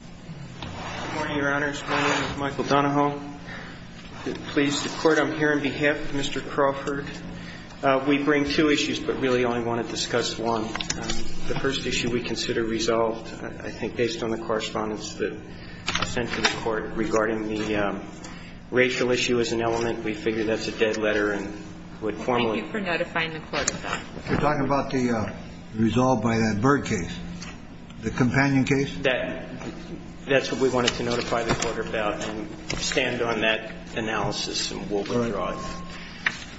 Good morning, Your Honors. My name is Michael Donahoe. Please, the Court, I'm here on behalf of Mr. Crawford. We bring two issues, but really only want to discuss one. The first issue we consider resolved, I think, based on the correspondence that was sent to the Court regarding the racial issue as an element. We figure that's a dead letter and would formally Thank you for notifying the Court of that. You're talking about the resolve by that Byrd case, the companion case? That's what we wanted to notify the Court about and stand on that analysis and we'll withdraw it.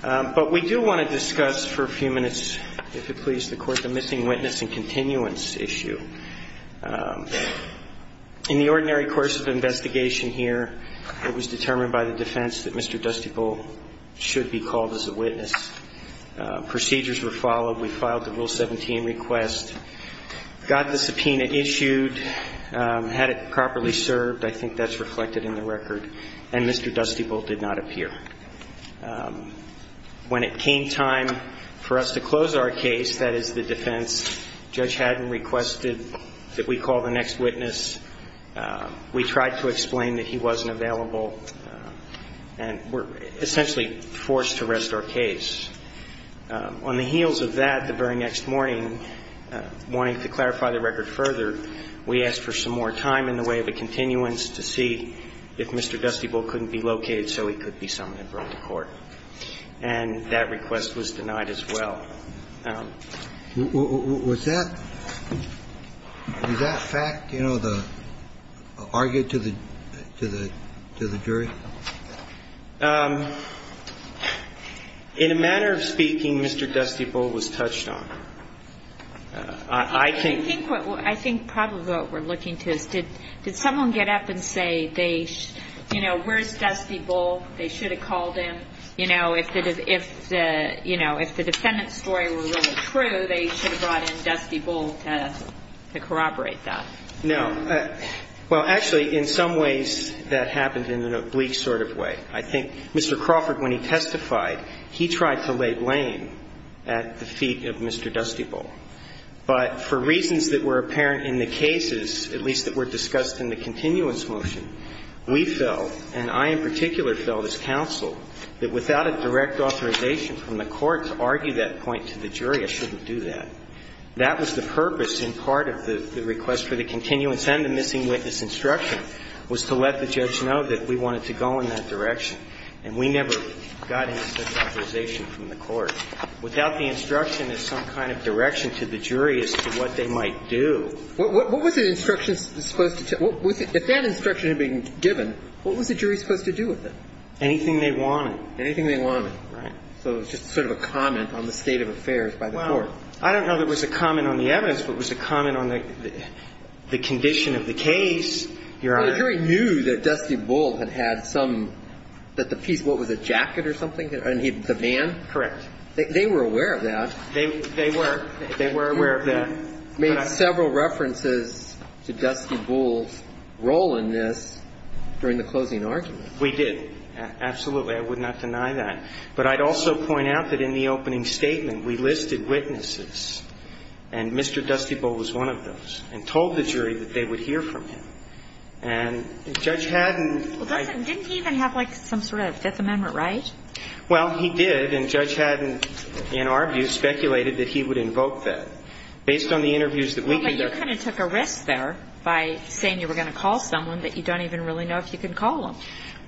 But we do want to discuss for a few minutes, if you please, the Court, the missing witness and continuance issue. In the ordinary course of investigation here, it was determined by the defense that Mr. Dusty Bull should be called as a witness. Procedures were followed. We filed the Rule 17 request, got the subpoena issued. Had it properly served, I think that's reflected in the record, and Mr. Dusty Bull did not appear. When it came time for us to close our case, that is the defense, Judge Haddon requested that we call the next witness. We tried to explain that he wasn't available and were essentially forced to rest our case. On the heels of that, the very next morning, wanting to clarify the record further, we asked for some more time in the way of a continuance to see if Mr. Dusty Bull couldn't be located so he could be summoned and brought to court. And that request was denied as well. Was that fact, you know, argued to the jury? In a manner of speaking, Mr. Dusty Bull was touched on. I think probably what we're looking to is did someone get up and say, you know, where's Dusty Bull? They should have called him. You know, if the defendant's story were really true, they should have brought in Dusty Bull to corroborate that. No. Well, actually, in some ways, that happened in an oblique sort of way. I think Mr. Crawford, when he testified, he tried to lay blame at the feet of Mr. Dusty Bull. But for reasons that were apparent in the cases, at least that were discussed in the continuance motion, we felt, and I in particular felt as counsel, that without a direct authorization from the court to argue that point to the jury, I shouldn't do that. That was the purpose in part of the request for the continuance and the missing witness instruction was to let the judge know that we wanted to go in that direction. And we never got any such authorization from the court. Without the instruction as some kind of direction to the jury as to what they might do. What was the instruction supposed to tell you? If that instruction had been given, what was the jury supposed to do with it? Anything they wanted. Anything they wanted. Right. So it was just sort of a comment on the state of affairs by the court. I don't know that it was a comment on the evidence, but it was a comment on the condition of the case, Your Honor. The jury knew that Dusty Bull had had some, that the piece, what was it, a jacket or something, the van? Correct. They were aware of that. They were. They were aware of that. Made several references to Dusty Bull's role in this during the closing argument. We did. Absolutely. I would not deny that. But I'd also point out that in the opening statement, we listed witnesses, and Mr. Dusty Bull was one of those, and told the jury that they would hear from him. And Judge Haddon didn't even have, like, some sort of Fifth Amendment right? Well, he did. And Judge Haddon, in our view, speculated that he would invoke that. Based on the interviews that we did. Well, but you kind of took a risk there by saying you were going to call someone that you don't even really know if you could call them.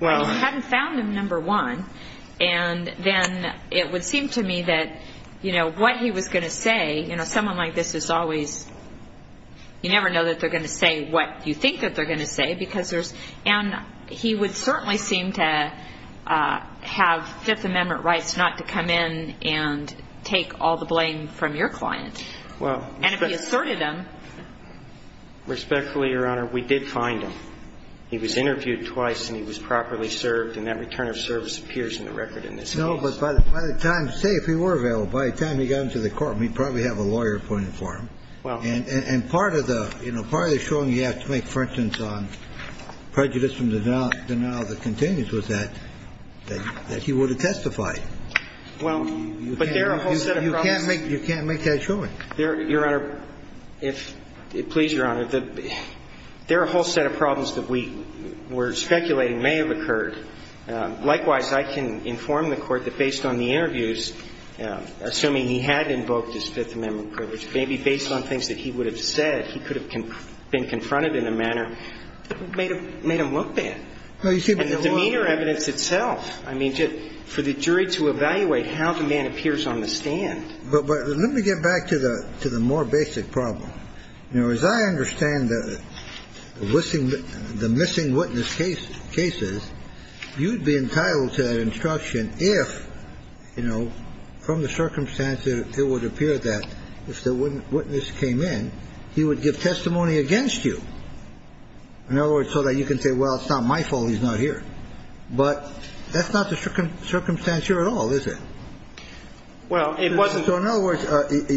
Well. Hadn't found him, number one. And then it would seem to me that, you know, what he was going to say, you know, someone like this is always, you never know that they're going to say what you think that they're going to say. Because there's, and he would certainly seem to have Fifth Amendment rights not to come in and take all the blame from your client. Well. And if he asserted them. Respectfully, Your Honor, we did find him. He was interviewed twice and he was properly served and that return of service appears in the record in this case. No, but by the time, say, if he were available, by the time he got into the courtroom, he'd probably have a lawyer appointed for him. Well. And part of the, you know, part of the showing you have to make, for instance, on prejudice from the denial that continues with that, that he would have testified. Well, but there are a whole set of problems. You can't make that showing. There, Your Honor, if, please, Your Honor, there are a whole set of problems that we were speculating may have occurred. Likewise, I can inform the Court that based on the interviews, assuming he had invoked his Fifth Amendment privilege, maybe based on things that he would have said, he could have been confronted in a manner that made him look bad. Well, you see. And the meaner evidence itself, I mean, for the jury to evaluate how the man appears on the stand. But let me get back to the more basic problem. You know, as I understand the missing witness cases, you'd be entitled to that instruction if, you know, from the circumstance, it would appear that if the witness came in, he would give testimony against you. In other words, so that you can say, well, it's not my fault he's not here. But that's not the circumstance here at all, is it? Well, it wasn't. So, in other words,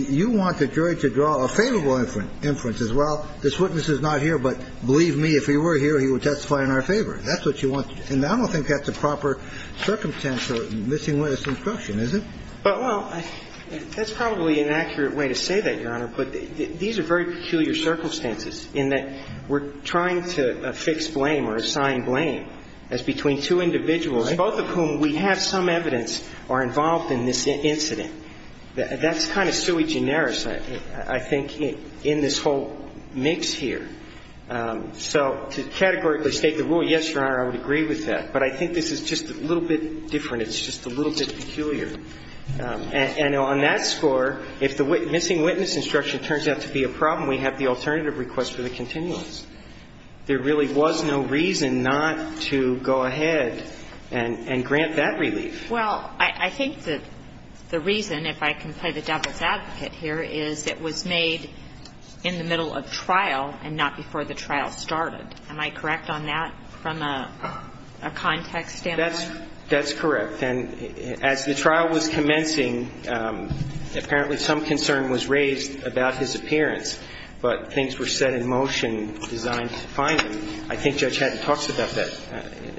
you want the jury to draw a favorable inference as, well, this witness is not here, but believe me, if he were here, he would testify in our favor. That's what you want. And I don't think that's a proper circumstance for missing witness instruction, is it? But, well, that's probably an accurate way to say that, Your Honor. But these are very peculiar circumstances in that we're trying to affix blame or assign blame as between two individuals, both of whom we have some evidence are involved in the crime. And we have some evidence that they are involved in this incident. That's kind of sui generis, I think, in this whole mix here. So to categorically state the rule, yes, Your Honor, I would agree with that. But I think this is just a little bit different. It's just a little bit peculiar. And on that score, if the missing witness instruction turns out to be a problem, we have the alternative request for the continuance. There really was no reason not to go ahead and grant that relief. Well, I think that the reason, if I can play the devil's advocate here, is it was made in the middle of trial and not before the trial started. Am I correct on that from a context standpoint? That's correct. And as the trial was commencing, apparently some concern was raised about his appearance. But things were set in motion designed to find him. I think Judge Haddon talks about that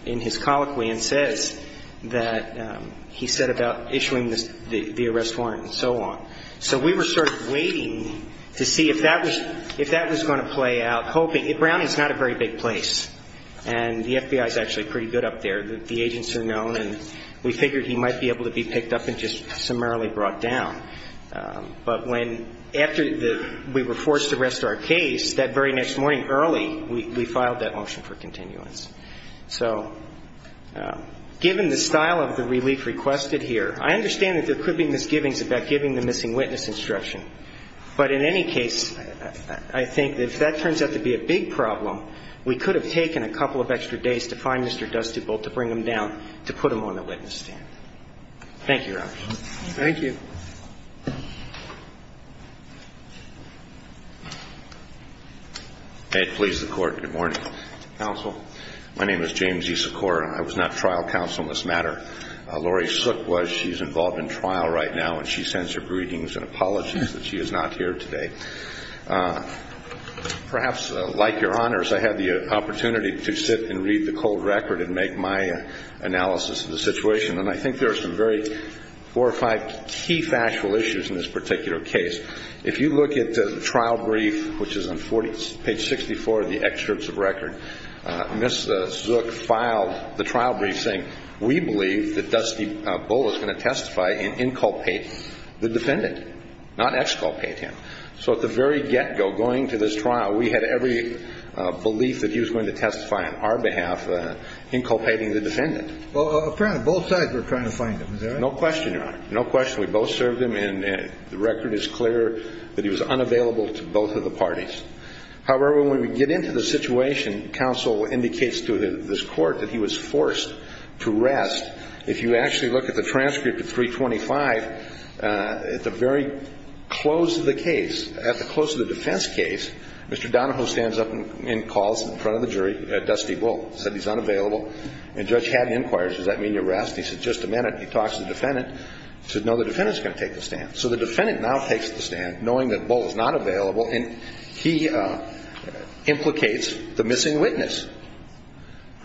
in his colloquy and says that he set about issuing the arrest warrant and so on. So we were sort of waiting to see if that was going to play out, hoping, Browning's not a very big place. And the FBI's actually pretty good up there. The agents are known. And we figured he might be able to be picked up and just summarily brought down. But when, after we were forced to rest our case, that very next morning early, we filed that motion for continuance. So given the style of the relief requested here, I understand that there could be misgivings about giving the missing witness instruction. But in any case, I think if that turns out to be a big problem, we could have taken a couple of extra days to find Mr. Dusty Bolt to bring him down to put him on the witness stand. Thank you, Your Honor. Thank you. May it please the court. Good morning, counsel. My name is James E. Sikora. I was not trial counsel in this matter. Laurie Sook was. She's involved in trial right now. And she sends her greetings and apologies that she is not here today. Perhaps, like Your Honors, I had the opportunity to sit and read the cold record and make my analysis of the situation. And I think there are some very horrified, key factual issues in this particular case. If you look at the trial brief, which is on page 64 of the excerpts of record, Ms. Sook filed the trial brief saying, we believe that Dusty Bolt is going to testify and inculpate the defendant, not exculpate him. So at the very get-go, going to this trial, we had every belief that he was going to testify on our behalf, inculpating the defendant. Well, apparently, both sides were trying to find him, is that right? No question, Your Honor. No question. We both served him. And the record is clear that he was unavailable to both of the parties. However, when we get into the situation, counsel indicates to this court that he was forced to rest. If you actually look at the transcript of 325, at the very close of the case, at the close of the defense case, Mr. Donahoe stands up and calls in front of the jury, Dusty Bolt, said he's unavailable. And Judge Haddon inquires, does that mean you rest? He said, just a minute. He talks to the defendant, said, no, the defendant's going to take the stand. So the defendant now takes the stand, knowing that Bolt is not available, and he implicates the missing witness.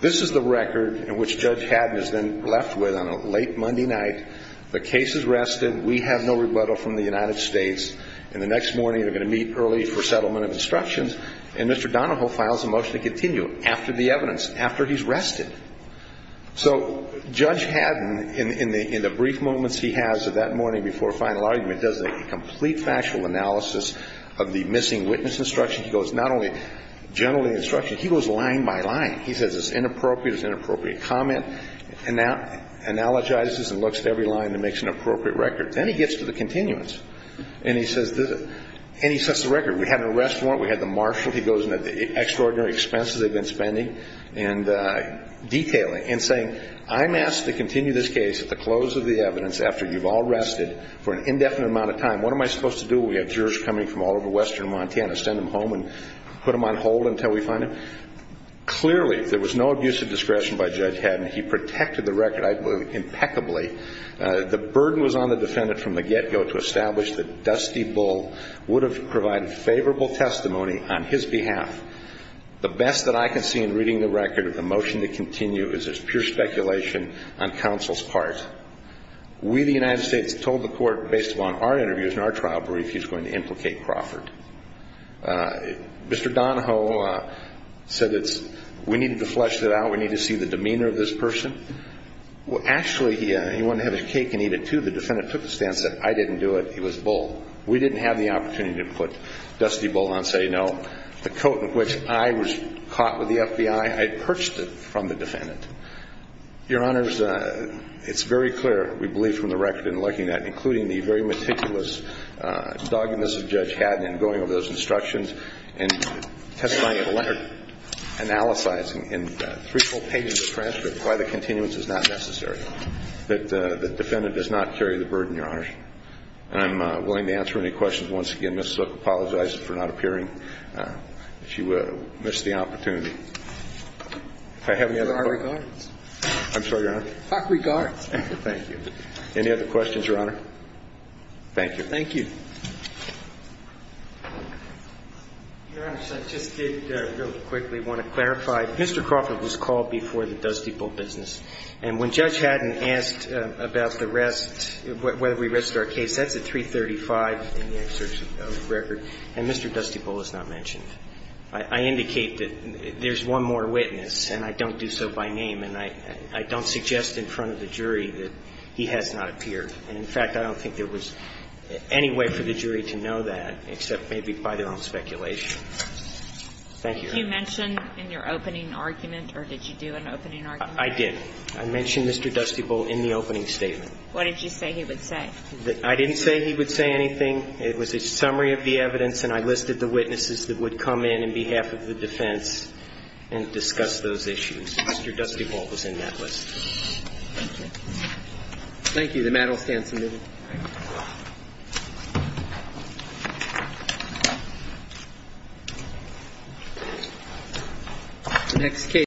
This is the record in which Judge Haddon is then left with on a late Monday night. The case is rested. We have no rebuttal from the United States. And the next morning, they're going to meet early for settlement of instructions. And Mr. Donahoe files a motion to continue after the evidence, after he's rested. So Judge Haddon, in the brief moments he has of that morning before final argument, does a complete factual analysis of the missing witness instruction. He goes not only general instruction, he goes line by line. He says it's inappropriate, it's inappropriate comment, analogizes and looks at every line and makes an appropriate record. Then he gets to the continuance, and he sets the record. We had an arrest warrant. We had the marshal. He goes into the extraordinary expenses they've been spending and detailing and saying, I'm asked to continue this case at the close of the evidence after you've all rested for an indefinite amount of time. What am I supposed to do when we have jurors coming from all over western Montana? Send them home and put them on hold until we find them? Clearly, there was no abuse of discretion by Judge Haddon. He protected the record impeccably. The burden was on the defendant from the get-go to establish that Dusty Bull would have provided favorable testimony on his behalf. The best that I can see in reading the record of the motion to continue is there's pure speculation on counsel's part. We, the United States, told the court, based upon our interviews and our trial brief, he's going to implicate Crawford. Mr. Donahoe said it's, we need to flesh that out. We need to see the demeanor of this person. Actually, he wanted to have his cake and eat it, too. The defendant took a stance that I didn't do it, he was Bull. We didn't have the opportunity to put Dusty Bull on, say no. The coat in which I was caught with the FBI, I had purchased it from the defendant. Your Honors, it's very clear, we believe from the record in looking at it, including the very meticulous doggedness of Judge Haddon in going over those instructions and testifying at a letter, and analyzing in three full pages of transcripts why the continuance is not necessary. That the defendant does not carry the burden, Your Honors. And I'm willing to answer any questions. Once again, Ms. Zook, I apologize for not appearing. If you missed the opportunity. Do I have any other questions? I have regards. I'm sorry, Your Honor. I have regards. Thank you. Any other questions, Your Honor? Thank you. Thank you. Your Honor, so I just did, really quickly, want to clarify. Mr. Crawford was called before the Dusty Bull business. And when Judge Haddon asked about the rest, whether we rested our case, that's at 335 in the excerpt of the record. And Mr. Dusty Bull is not mentioned. I indicate that there's one more witness, and I don't do so by name. And I don't suggest in front of the jury that he has not appeared. And in fact, I don't think there was any way for the jury to know that, except maybe by their own speculation. Thank you. You mentioned in your opening argument, or did you do an opening argument? I did. I mentioned Mr. Dusty Bull in the opening statement. What did you say he would say? I didn't say he would say anything. It was a summary of the evidence, and I listed the witnesses that would come in, on behalf of the defense, and discuss those issues. Mr. Dusty Bull was in that list. Thank you. Thank you. The mattel stands admitted. Thank you. Next case.